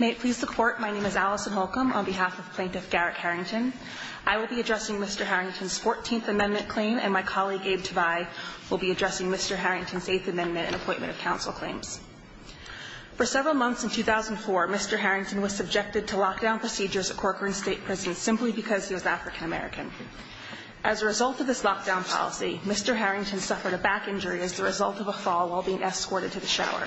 May it please the court, my name is Allison Holcomb on behalf of Plaintiff Garrick Harrington. I will be addressing Mr. Harrington's 14th Amendment claim and my colleague Abe Tvei will be addressing Mr. Harrington's 8th Amendment and Appointment of Counsel claims. For several months in 2004, Mr. Harrington was subjected to lockdown procedures at Corcoran State Prison simply because he was African American. As a result of this lockdown policy, Mr. Harrington suffered a back injury as the result of a fall while being escorted to the shower.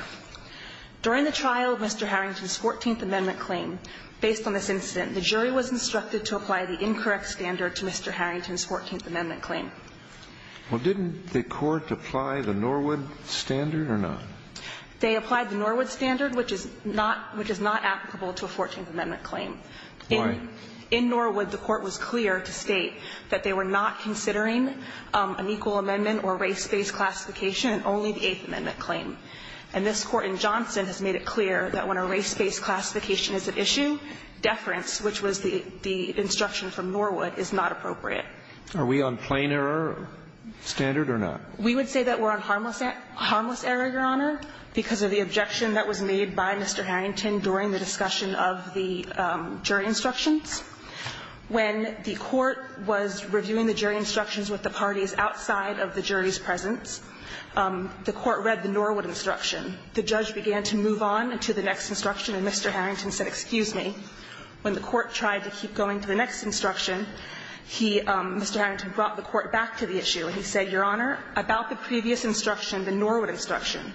During the trial of Mr. Harrington's 14th Amendment claim, based on this incident, the jury was instructed to apply the incorrect standard to Mr. Harrington's 14th Amendment claim. Well, didn't the court apply the Norwood standard or not? They applied the Norwood standard, which is not applicable to a 14th Amendment claim. Why? In Norwood, the court was clear to state that they were not considering an equal amendment or race-based classification in only the 8th Amendment claim. And this Court in Johnson has made it clear that when a race-based classification is at issue, deference, which was the instruction from Norwood, is not appropriate. Are we on plain error standard or not? We would say that we're on harmless error, Your Honor, because of the objection that was made by Mr. Harrington during the discussion of the jury instructions. When the court was reviewing the jury instructions with the parties outside of the jury's presence, the court read the Norwood instruction. The judge began to move on to the next instruction, and Mr. Harrington said, excuse me. When the court tried to keep going to the next instruction, he, Mr. Harrington, brought the court back to the issue, and he said, Your Honor, about the previous instruction, the Norwood instruction,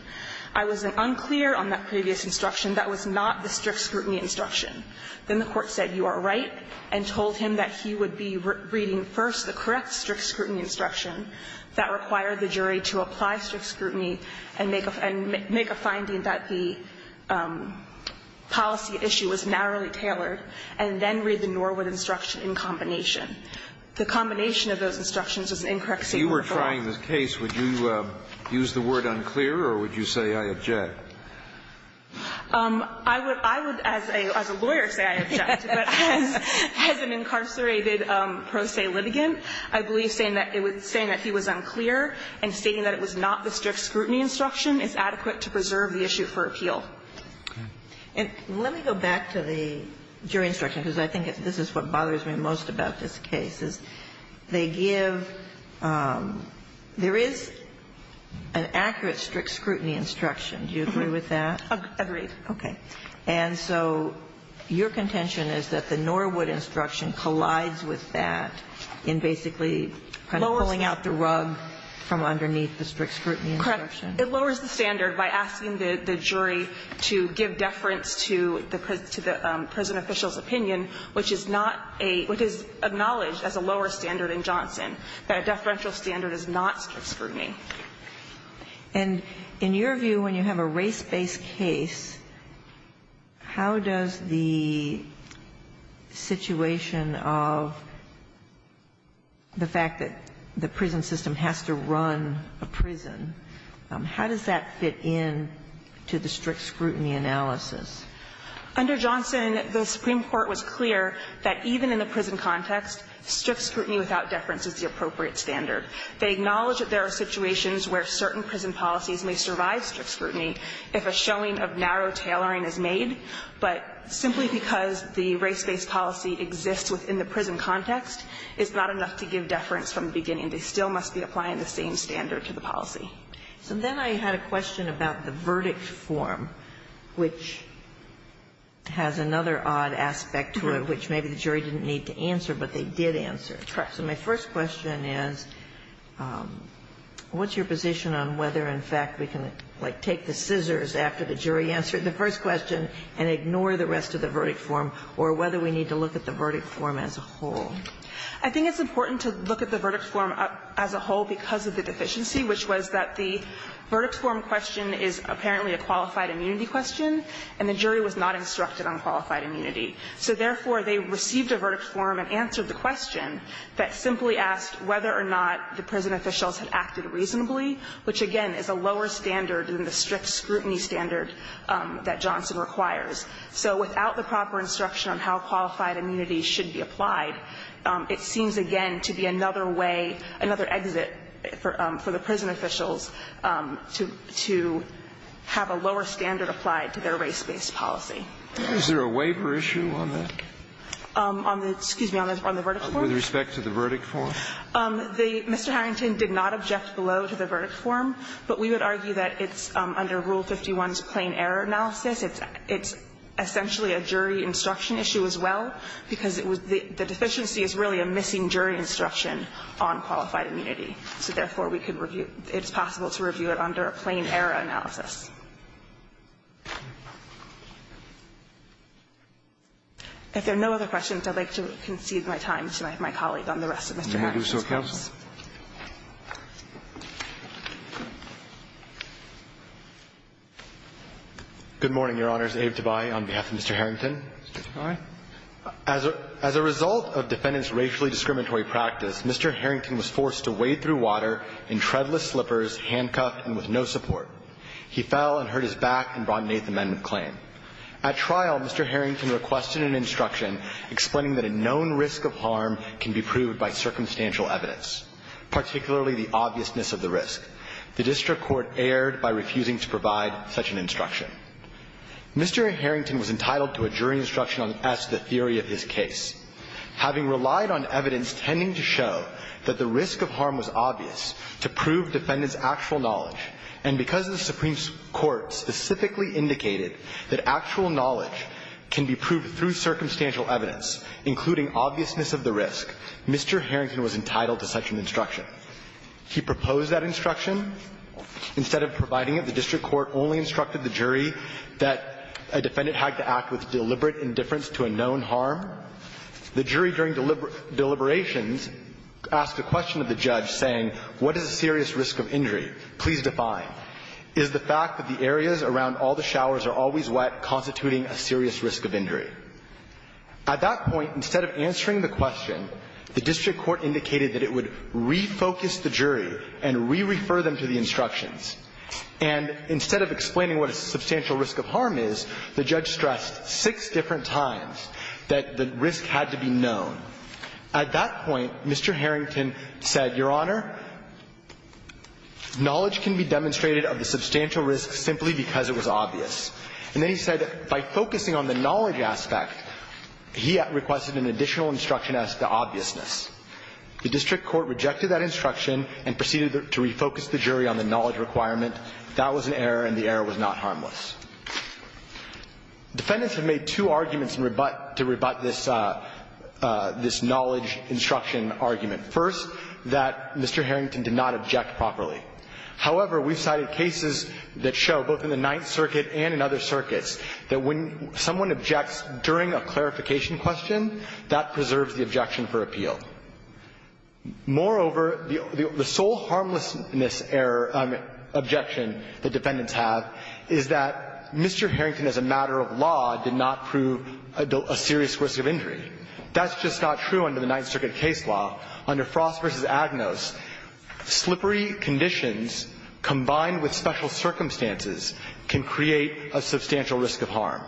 I was unclear on that previous instruction. That was not the strict scrutiny instruction. Then the court said, you are right, and told him that he would be reading first the correct strict scrutiny instruction that required the jury to apply strict scrutiny and make a finding that the policy issue was narrowly tailored, and then read the Norwood instruction in combination. The combination of those instructions is an incorrect statement of the law. If you were trying the case, would you use the word unclear or would you say I object? I would, as a lawyer, say I object. But as an incarcerated pro se litigant, I believe saying that he was unclear and stating that it was not the strict scrutiny instruction is adequate to preserve the issue for appeal. And let me go back to the jury instruction, because I think this is what bothers me most about this case, is they give – there is an accurate strict scrutiny instruction. Do you agree with that? Agreed. And so your contention is that the Norwood instruction collides with that in basically kind of pulling out the rug from underneath the strict scrutiny instruction? Correct. It lowers the standard by asking the jury to give deference to the prison official's opinion, which is not a – which is acknowledged as a lower standard in Johnson, that a deferential standard is not strict scrutiny. And in your view, when you have a race-based case, how does the situation of the fact that the prison system has to run a prison, how does that fit in to the strict scrutiny analysis? Under Johnson, the Supreme Court was clear that even in the prison context, strict scrutiny without deference is the appropriate standard. They acknowledge that there are situations where certain prison policies may survive strict scrutiny if a showing of narrow tailoring is made, but simply because the race-based policy exists within the prison context, it's not enough to give deference from the beginning. They still must be applying the same standard to the policy. So then I had a question about the verdict form, which has another odd aspect to it, which maybe the jury didn't need to answer, but they did answer. So my first question is, what's your position on whether, in fact, we can, like, take the scissors after the jury answered the first question and ignore the rest of the verdict form, or whether we need to look at the verdict form as a whole? I think it's important to look at the verdict form as a whole because of the deficiency, which was that the verdict form question is apparently a qualified immunity question, and the jury was not instructed on qualified immunity. So therefore, they received a verdict form and answered the question that simply asked whether or not the prison officials had acted reasonably, which, again, is a lower standard than the strict scrutiny standard that Johnson requires. So without the proper instruction on how qualified immunity should be applied, it seems, again, to be another way, another exit for the prison officials to have a lower standard applied to their race-based policy. Is there a waiver issue on that? On the verdict form? With respect to the verdict form. Mr. Harrington did not object below to the verdict form, but we would argue that it's under Rule 51's plain error analysis. It's essentially a jury instruction issue as well, because it was the deficiency is really a missing jury instruction on qualified immunity. So therefore, we could review, it's possible to review it under a plain error analysis. If there are no other questions, I'd like to concede my time to my colleague on the rest of Mr. Harrington's case. Can we do so, counsel? Good morning, Your Honors. Abe Dubai on behalf of Mr. Harrington. Mr. Dubai. As a result of defendant's racially discriminatory practice, Mr. Harrington was forced to wade through water in treadless slippers, handcuffed, and with no support. He fell and hurt his back and brought an Eighth Amendment claim. At trial, Mr. Harrington requested an instruction explaining that a known risk of harm can be proved by circumstantial evidence, particularly the obviousness of the risk. The district court erred by refusing to provide such an instruction. Mr. Harrington was entitled to a jury instruction on S, the theory of his case. Having relied on evidence tending to show that the risk of harm was obvious to prove the defendant's actual knowledge, and because the Supreme Court specifically indicated that actual knowledge can be proved through circumstantial evidence, including obviousness of the risk, Mr. Harrington was entitled to such an instruction. He proposed that instruction. Instead of providing it, the district court only instructed the jury that a defendant had to act with deliberate indifference to a known harm. The jury, during deliberations, asked a question of the judge saying, what is a serious risk of injury? Please define. Is the fact that the areas around all the showers are always wet constituting a serious risk of injury? At that point, instead of answering the question, the district court indicated that it would refocus the jury and re-refer them to the instructions. And instead of explaining what a substantial risk of harm is, the judge stressed six different times that the risk had to be known. At that point, Mr. Harrington said, Your Honor, knowledge can be demonstrated of the substantial risk simply because it was obvious. And then he said that by focusing on the knowledge aspect, he requested an additional instruction as to the obviousness. The district court rejected that instruction and proceeded to refocus the jury on the knowledge requirement. That was an error, and the error was not harmless. Defendants have made two arguments to rebut this knowledge instruction argument. First, that Mr. Harrington did not object properly. However, we've cited cases that show, both in the Ninth Circuit and in other circuits, that when someone objects during a clarification question, that preserves the objection for appeal. Moreover, the sole harmlessness objection that defendants have is that the judge said that Mr. Harrington, as a matter of law, did not prove a serious risk of injury. That's just not true under the Ninth Circuit case law. Under Frost v. Agnos, slippery conditions combined with special circumstances can create a substantial risk of harm.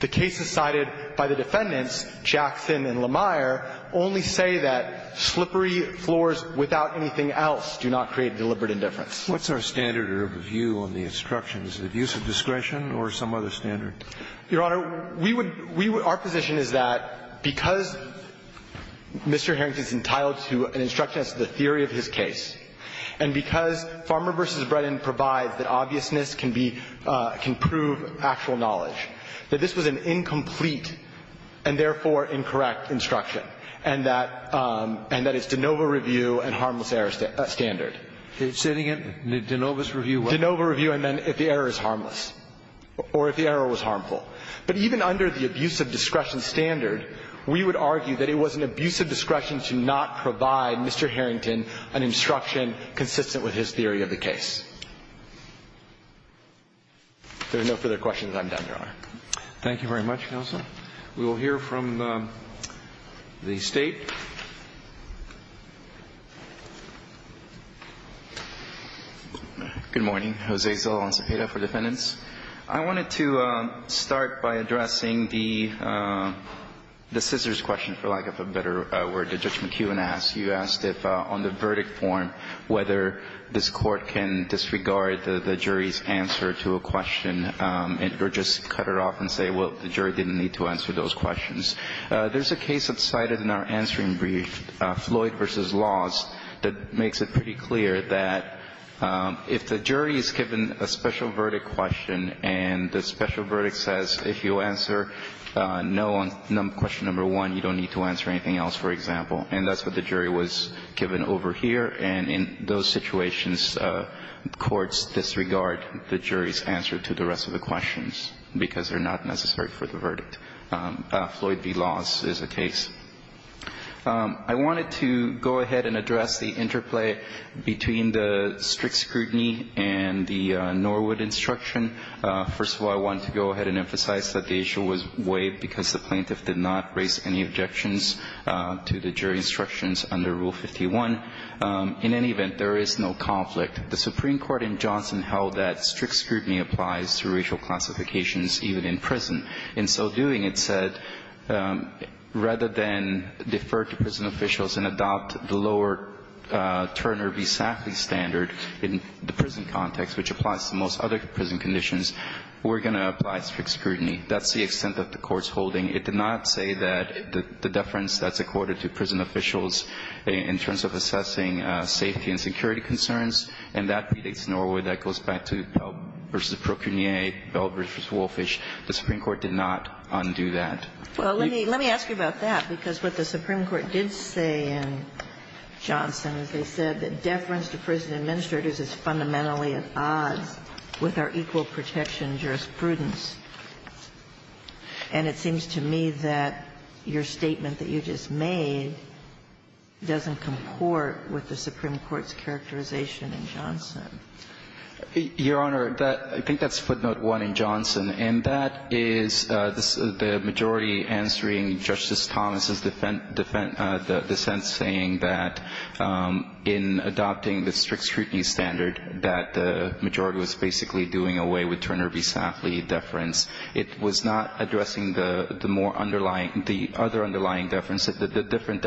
The cases cited by the defendants, Jackson and Lemire, only say that slippery floors without anything else do not create deliberate indifference. What's our standard of review on the instructions? Is it abuse of discretion or some other standard? Your Honor, we would – we would – our position is that because Mr. Harrington is entitled to an instruction as to the theory of his case, and because Farmer v. Bredin provides that obviousness can be – can prove actual knowledge, that this was an incomplete and therefore incorrect instruction, and that – and that it's de novo review and harmless error standard. Say it again. De novo review. De novo review, I meant if the error is harmless or if the error was harmful. But even under the abuse of discretion standard, we would argue that it was an abuse of discretion to not provide Mr. Harrington an instruction consistent with his theory of the case. If there are no further questions, I'm done, Your Honor. Thank you very much, counsel. We will hear from the State. Good morning. Jose Zola-Lanzapeta for defendants. I wanted to start by addressing the scissors question, for lack of a better word, that Judge McEwen asked. You asked if on the verdict form whether this Court can disregard the jury's answer to a question or just cut it off and say, well, the jury didn't need to answer those questions. There's a case that's cited in our answering brief, Floyd v. Laws, that makes it pretty clear that if the jury is given a special verdict question and the special verdict says if you answer no on question number one, you don't need to answer anything else, for example, and that's what the jury was given over here, and in those cases, the jury's answer to the rest of the questions, because they're not necessary for the verdict. Floyd v. Laws is a case. I wanted to go ahead and address the interplay between the strict scrutiny and the Norwood instruction. First of all, I wanted to go ahead and emphasize that the issue was waived because the plaintiff did not raise any objections to the jury instructions under Rule 51. In any event, there is no conflict. The Supreme Court in Johnson held that strict scrutiny applies to racial classifications even in prison. In so doing, it said rather than defer to prison officials and adopt the lower Turner v. Sackley standard in the prison context, which applies to most other prison conditions, we're going to apply strict scrutiny. That's the extent that the Court's holding. It did not say that the deference that's accorded to prison officials in terms of assessing safety and security concerns, and that predates Norwood. That goes back to Pell v. Procurnier, Pell v. Wolfish. The Supreme Court did not undo that. Well, let me ask you about that, because what the Supreme Court did say in Johnson is they said that deference to prison administrators is fundamentally at odds with our equal protection jurisprudence. And it seems to me that your statement that you just made doesn't comport with the Supreme Court's characterization in Johnson. Your Honor, I think that's footnote 1 in Johnson, and that is the majority answering Justice Thomas' dissent saying that in adopting the strict scrutiny standard that the majority was basically doing away with Turner v. Sackley deference, it was not addressing the more underlying, the other underlying deference, the different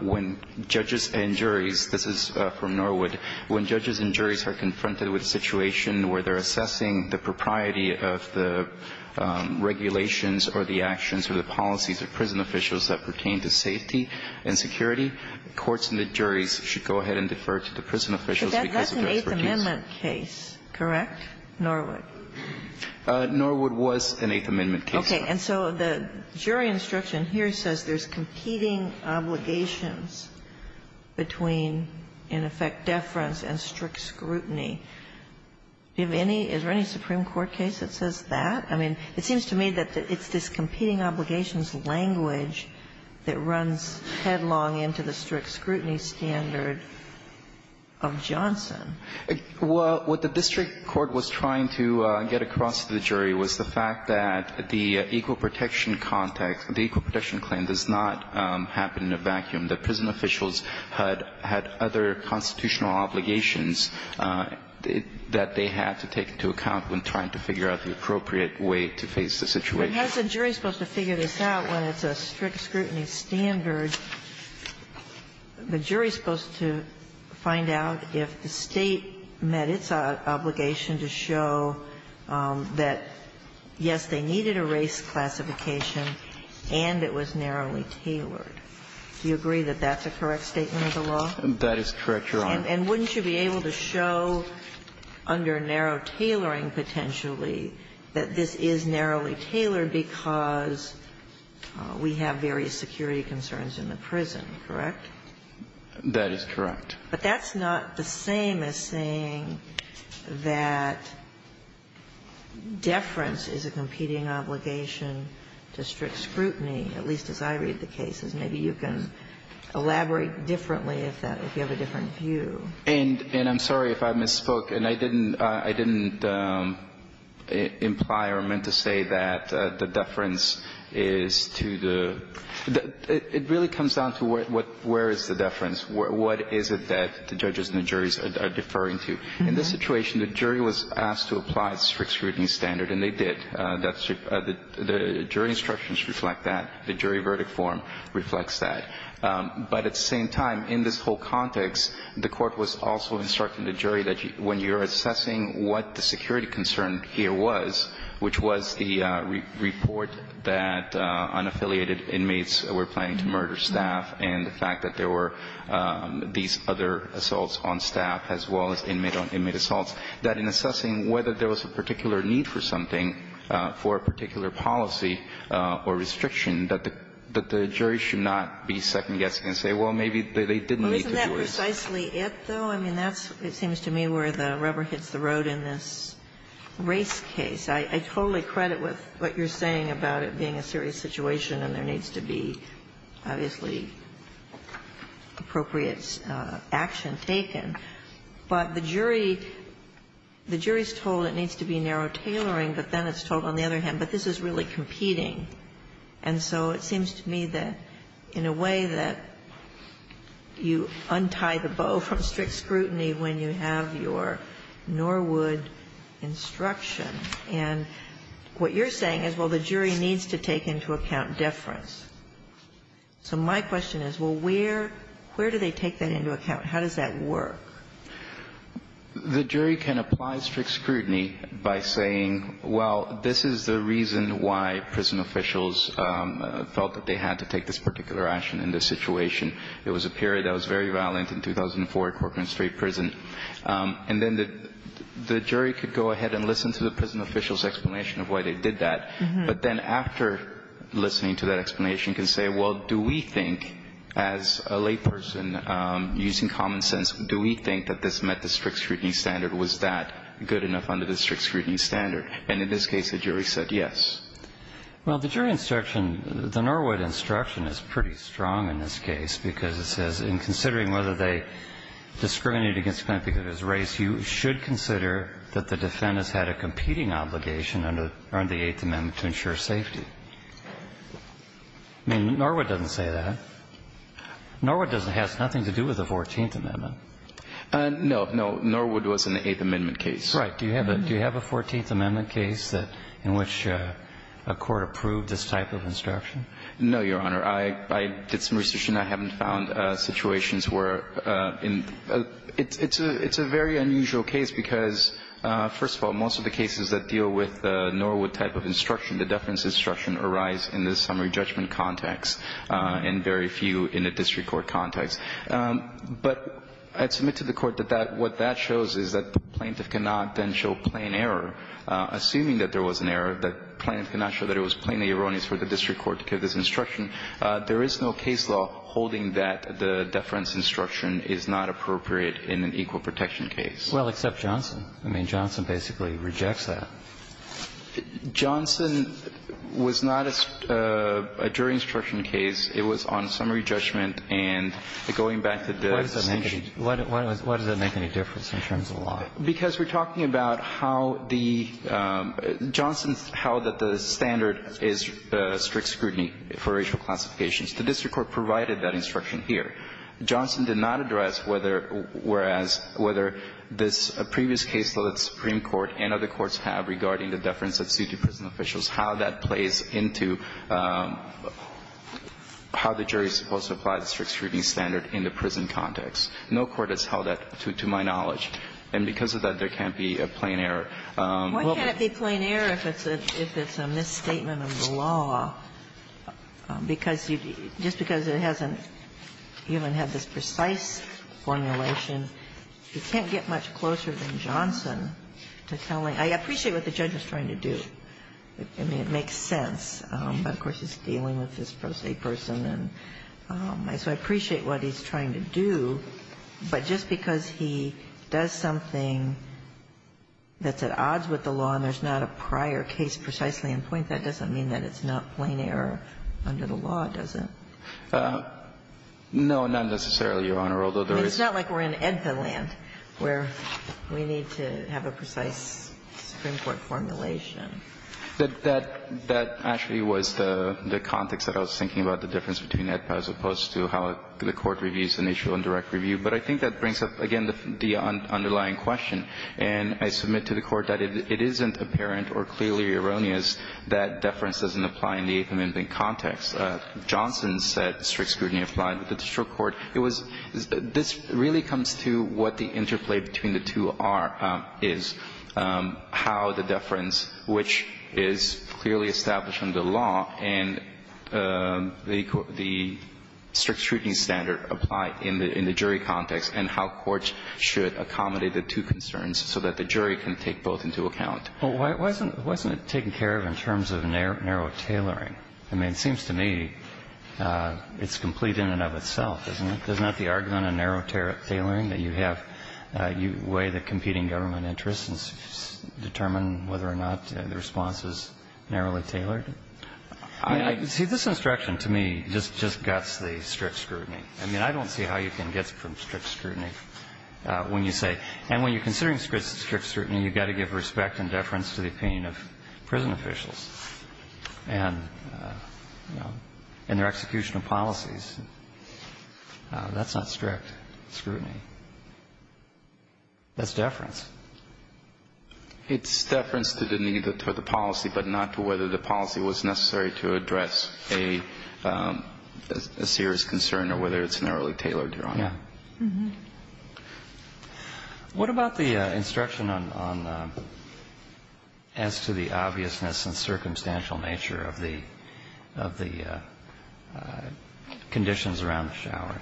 When judges and juries, this is from Norwood, when judges and juries are confronted with a situation where they're assessing the propriety of the regulations or the actions or the policies of prison officials that pertain to safety and security, courts and the juries should go ahead and defer to the prison officials because of their expertise. So that's an Eighth Amendment case, correct, Norwood? Norwood was an Eighth Amendment case. Okay. And so the jury instruction here says there's competing obligations between, in effect, deference and strict scrutiny. Do you have any? Is there any Supreme Court case that says that? I mean, it seems to me that it's this competing obligations language that runs headlong into the strict scrutiny standard of Johnson. Well, what the district court was trying to get across to the jury was the fact that the equal protection context, the equal protection claim does not happen in a vacuum, that prison officials had other constitutional obligations that they had to take into account when trying to figure out the appropriate way to face the situation. But how is a jury supposed to figure this out when it's a strict scrutiny standard? The jury is supposed to find out if the State met its obligation to show that, yes, they needed a race classification and it was narrowly tailored. Do you agree that that's a correct statement of the law? That is correct, Your Honor. And wouldn't you be able to show under narrow tailoring potentially that this is narrowly tailored because we have various security concerns in the prison, correct? That is correct. But that's not the same as saying that deference is a competing obligation to strict scrutiny, at least as I read the cases. Maybe you can elaborate differently if that you have a different view. And I'm sorry if I misspoke. And I didn't imply or meant to say that the deference is to the ‑‑ it really comes down to where is the deference, what is it that the judges and the juries are deferring to. In this situation, the jury was asked to apply strict scrutiny standard, and they did. The jury instructions reflect that. The jury verdict form reflects that. But at the same time, in this whole context, the court was also instructing the jury that when you're assessing what the security concern here was, which was the report that unaffiliated inmates were planning to murder staff and the fact that there were these other assaults on staff as well as inmate assaults, that in assessing whether there was a particular need for something, for a particular policy or restriction, that the jury should not be second-guessing and say, well, maybe they didn't need it. I mean, that's ‑‑ it seems to me where the rubber hits the road in this race case. I totally credit with what you're saying about it being a serious situation and there needs to be, obviously, appropriate action taken. But the jury ‑‑ the jury is told it needs to be narrow tailoring, but then it's told on the other hand, but this is really competing. And so it seems to me that in a way that you untie the bow from strict scrutiny when you have your Norwood instruction. And what you're saying is, well, the jury needs to take into account deference. So my question is, well, where ‑‑ where do they take that into account? How does that work? The jury can apply strict scrutiny by saying, well, this is the reason why prison officials felt that they had to take this particular action in this situation. It was a period that was very violent in 2004 at Corcoran Street Prison. And then the jury could go ahead and listen to the prison official's explanation of why they did that. But then after listening to that explanation can say, well, do we think, as a lay person using common sense, do we think that this met the strict scrutiny standard? Was that good enough under the strict scrutiny standard? And in this case, the jury said yes. Well, the jury instruction, the Norwood instruction is pretty strong in this case because it says in considering whether they discriminated against Clint because of his race, you should consider that the defendants had a competing obligation under the Eighth Amendment to ensure safety. I mean, Norwood doesn't say that. Norwood has nothing to do with the Fourteenth Amendment. No, no. Norwood was in the Eighth Amendment case. Right. Do you have a Fourteenth Amendment case in which a court approved this type of instruction? No, Your Honor. I did some research and I haven't found situations where in the – it's a very unusual case because, first of all, most of the cases that deal with the Norwood type of instruction, the deference instruction, arise in the summary judgment context and very few in the district court context. But I'd submit to the Court that that – what that shows is that the plaintiff cannot then show plain error, assuming that there was an error, that the plaintiff cannot show that it was plainly erroneous for the district court to give this instruction. There is no case law holding that the deference instruction is not appropriate in an equal protection case. Well, except Johnson. I mean, Johnson basically rejects that. Johnson was not a jury instruction case. It was on summary judgment and going back to the distinction. Why does that make any difference in terms of law? Because we're talking about how the – Johnson held that the standard is strict scrutiny for racial classifications. The district court provided that instruction here. Johnson did not address whether – whereas – whether this previous case that the Supreme Court and other courts have regarding the deference that's due to prison how the jury is supposed to apply the strict scrutiny standard in the prison context. No court has held that to my knowledge. And because of that, there can't be a plain error. Why can't it be plain error if it's a – if it's a misstatement of the law? Because you – just because it hasn't even had this precise formulation, you can't get much closer than Johnson to telling – I appreciate what the judge is trying to do. I mean, it makes sense. But, of course, he's dealing with this pro se person. And so I appreciate what he's trying to do. But just because he does something that's at odds with the law and there's not a prior case precisely in point, that doesn't mean that it's not plain error under the law, does it? No, not necessarily, Your Honor. Although there is – It's not like we're in Edpin land where we need to have a precise Supreme Court formulation. That actually was the context that I was thinking about, the difference between Edpin as opposed to how the Court reviews an issue on direct review. But I think that brings up, again, the underlying question. And I submit to the Court that it isn't apparent or clearly erroneous that deference doesn't apply in the eighth amendment context. Johnson said strict scrutiny applied with the district court. It was – this really comes to what the interplay between the two are – is, how the deference, which is clearly established from the law, and the strict scrutiny standard apply in the jury context, and how courts should accommodate the two concerns so that the jury can take both into account. Well, why isn't it taken care of in terms of narrow tailoring? I mean, it seems to me it's complete in and of itself, isn't it? There's not the argument of narrow tailoring that you have – you weigh the competing government interests and determine whether or not the response is narrowly tailored. See, this instruction, to me, just guts the strict scrutiny. I mean, I don't see how you can get from strict scrutiny when you say – and when you're considering strict scrutiny, you've got to give respect and deference to the opinion of prison officials and, you know, in their execution of policies. That's not strict scrutiny. That's deference. It's deference to the need for the policy, but not to whether the policy was necessary to address a serious concern or whether it's narrowly tailored, Your Honor. Yeah. What about the instruction on – as to the obviousness and circumstantial nature of the conditions around the shower?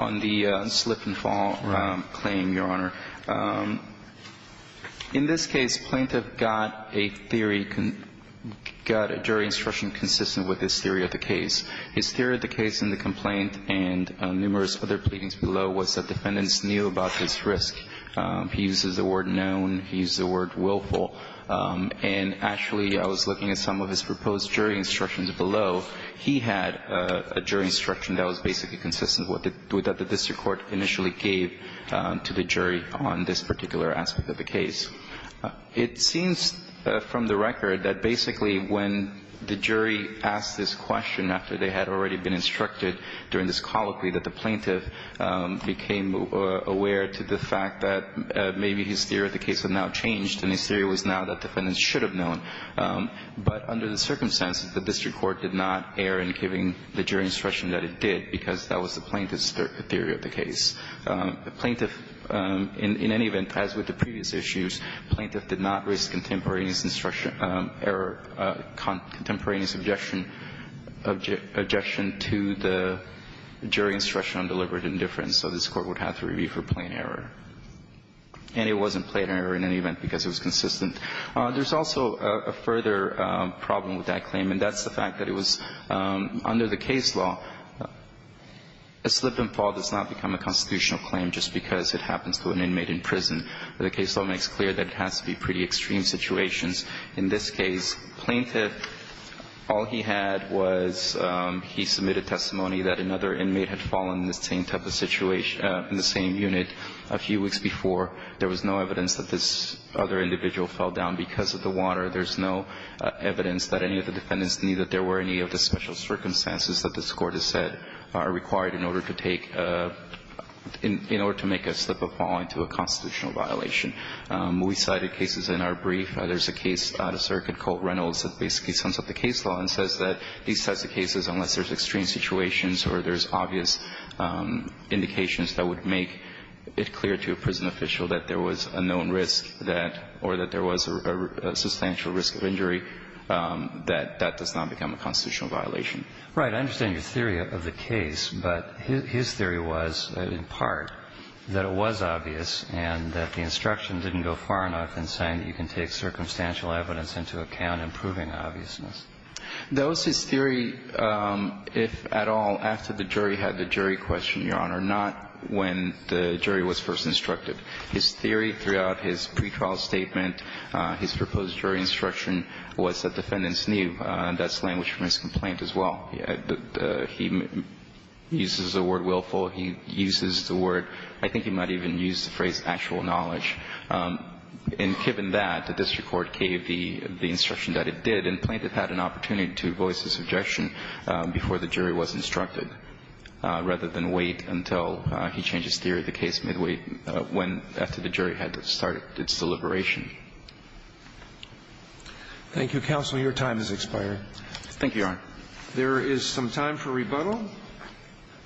On the slip-and-fall claim, Your Honor, in this case, plaintiff got a theory – got a jury instruction consistent with his theory of the case. His theory of the case in the complaint and numerous other pleadings below was that defendants knew about this risk. He used the word known. He used the word willful. And actually, I was looking at some of his proposed jury instructions below. He had a jury instruction that was basically consistent with what the district court initially gave to the jury on this particular aspect of the case. It seems from the record that basically when the jury asked this question after they had already been instructed during this colloquy that the plaintiff became aware to the fact that maybe his theory of the case had now changed and his theory was now that defendants should have known. But under the circumstances, the district court did not err in giving the jury instruction that it did because that was the plaintiff's theory of the case. The plaintiff, in any event, as with the previous issues, plaintiff did not risk contemporaneous instruction – error, contemporaneous objection to the jury instruction on deliberate indifference, so this Court would have to review for plain error. And it wasn't plain error in any event because it was consistent. There's also a further problem with that claim, and that's the fact that it was under the case law a slip and fall does not become a constitutional claim just because it happens to an inmate in prison. The case law makes clear that it has to be pretty extreme situations. In this case, plaintiff, all he had was he submitted testimony that another inmate had fallen in the same type of situation – in the same unit a few weeks before. There was no evidence that this other individual fell down because of the water. There's no evidence that any of the defendants knew that there were any of the special circumstances that this Court has said are required in order to take – in order to make a slip of falling to a constitutional violation. We cited cases in our brief. There's a case out of circuit called Reynolds that basically sums up the case law and says that these types of cases, unless there's extreme situations or there's obvious indications that would make it clear to a prison official that there was a known risk that – or that there was a substantial risk of injury, that that does not become a constitutional violation. Right. I understand your theory of the case, but his theory was, in part, that it was obvious and that the instruction didn't go far enough in saying that you can take circumstantial evidence into account in proving obviousness. That was his theory, if at all, after the jury had the jury question, Your Honor, not when the jury was first instructed. His theory throughout his pretrial statement, his proposed jury instruction, was that defendants knew. That's language from his complaint as well. He uses the word willful. He uses the word – I think he might even use the phrase actual knowledge. And given that, the district court gave the instruction that it did and plaintiff had an opportunity to voice his objection before the jury was instructed, rather than wait until he changed his theory of the case midway when, after the jury had started its deliberation. Thank you, counsel. Your time has expired. Thank you, Your Honor. There is some time for rebuttal.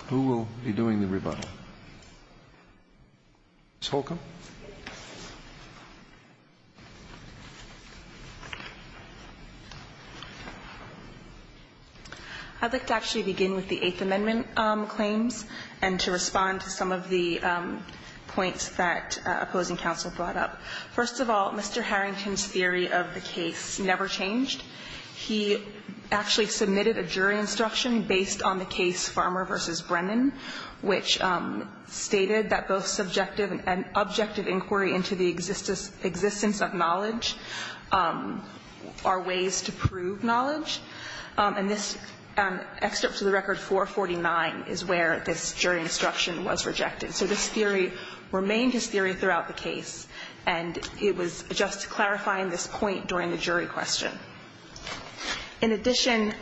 Who will be doing the rebuttal? Ms. Holcomb. I'd like to actually begin with the Eighth Amendment claims and to respond to some of the points that opposing counsel brought up. First of all, Mr. Harrington's theory of the case never changed. He actually submitted a jury instruction based on the case Farmer v. Brennan, which stated that both subjective and objective inquiry into the existence of knowledge are ways to prove knowledge. And this excerpt to the record 449 is where this jury instruction was rejected. So this theory remained his theory throughout the case, and it was just clarifying this point during the jury question. In addition,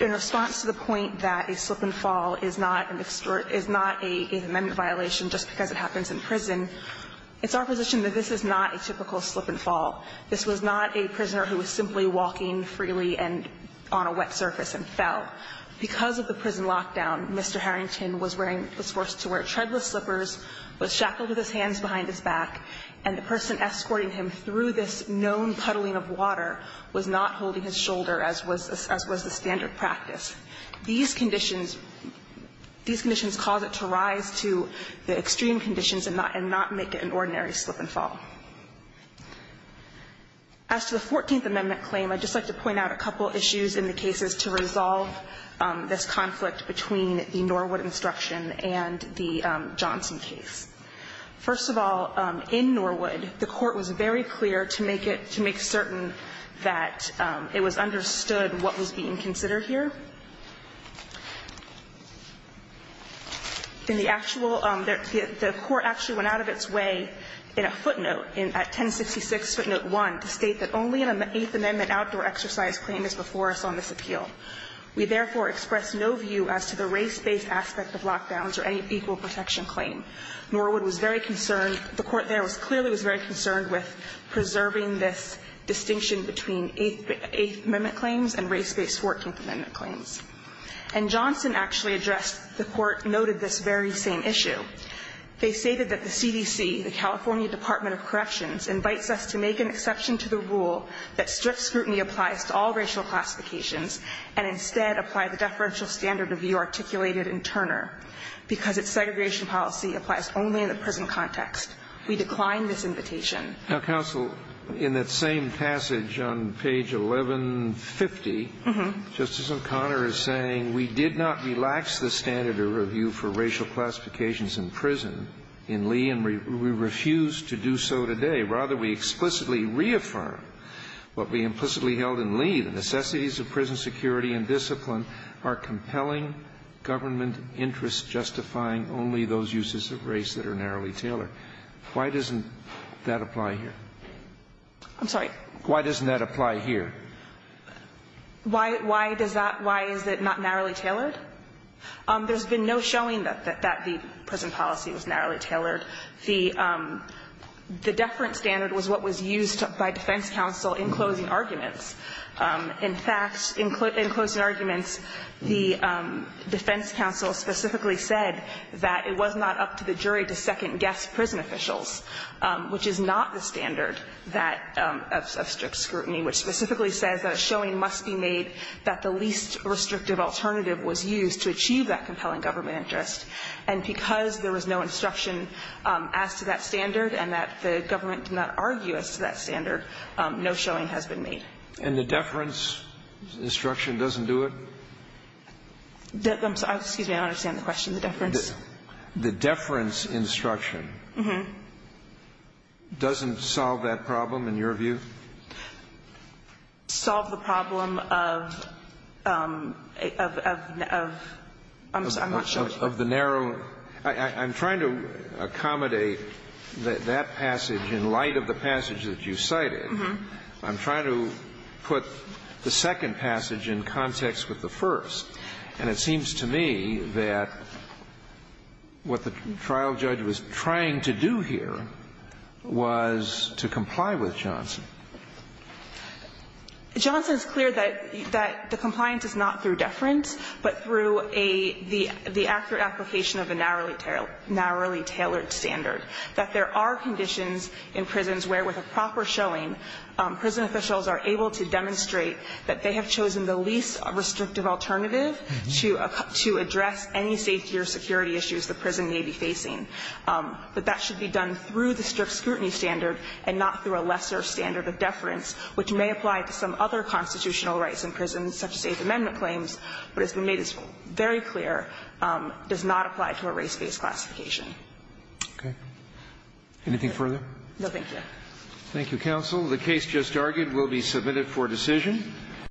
in response to the point that a slip-and-fall is not an extort – is not an Eighth Amendment violation just because it happens in prison, it's our position that this is not a typical slip-and-fall. This was not a prisoner who was simply walking freely and on a wet surface and fell. Because of the prison lockdown, Mr. Harrington was wearing – was forced to wear treadless slippers, was shackled with his hands behind his back, and the person escorting him through this known puddling of water was not holding his shoulder, as was the standard practice. These conditions – these conditions cause it to rise to the extreme conditions and not make it an ordinary slip-and-fall. As to the 14th Amendment claim, I'd just like to point out a couple issues in the cases to resolve this conflict between the Norwood instruction and the Johnson case. First of all, in Norwood, the Court was very clear to make it – to make certain that it was understood what was being considered here. In the actual – the Court actually went out of its way in a footnote, in – at 1066 footnote 1, to state that only an Eighth Amendment outdoor exercise claim is before us on this appeal. We therefore express no view as to the race-based aspect of lockdowns or any equal protection claim. Norwood was very concerned – the Court there was – clearly was very concerned with preserving this distinction between Eighth Amendment claims and race-based 14th Amendment claims. And Johnson actually addressed – the Court noted this very same issue. They stated that the CDC, the California Department of Corrections, invites us to make an exception to the rule that strict scrutiny applies to all racial classifications and instead apply the deferential standard of view articulated in Turner, because its segregation policy applies only in the prison context. We decline this invitation. Now, counsel, in that same passage on page 1150, Justice O'Connor is saying we did not relax the standard of review for racial classifications in prison, in Lee, and we refuse to do so today. Rather, we explicitly reaffirm what we implicitly held in Lee, the necessities of prison security and discipline are compelling government interests justifying only those uses of race that are narrowly tailored. Why doesn't that apply here? I'm sorry? Why doesn't that apply here? Why does that – why is it not narrowly tailored? There's been no showing that the prison policy was narrowly tailored. The deferent standard was what was used by defense counsel in closing arguments. In fact, in closing arguments, the defense counsel specifically said that it was not up to the jury to second-guess prison officials, which is not the standard of strict scrutiny, which specifically says that a showing must be made that the least restrictive alternative was used to achieve that compelling government interest. And because there was no instruction as to that standard and that the government did not argue as to that standard, no showing has been made. And the deference instruction doesn't do it? Excuse me. I don't understand the question. The deference? The deference instruction doesn't solve that problem in your view? Solve the problem of the narrow – I'm trying to accommodate that that passage in light of the passage that you cited. I'm trying to put the second passage in context with the first. And it seems to me that what the trial judge was trying to do here was to comply with Johnson. Johnson is clear that the compliance is not through deference, but through a – the narrowly tailored standard, that there are conditions in prisons where, with a proper showing, prison officials are able to demonstrate that they have chosen the least restrictive alternative to address any safety or security issues the prison may be facing, that that should be done through the strict scrutiny standard and not through a lesser standard of deference, which may apply to some other constitutional rights in prisons, such as Eighth Amendment claims, but it's been made very clear does not apply to a race-based classification. Okay. Anything further? No, thank you. Thank you, counsel. The case just argued will be submitted for decision.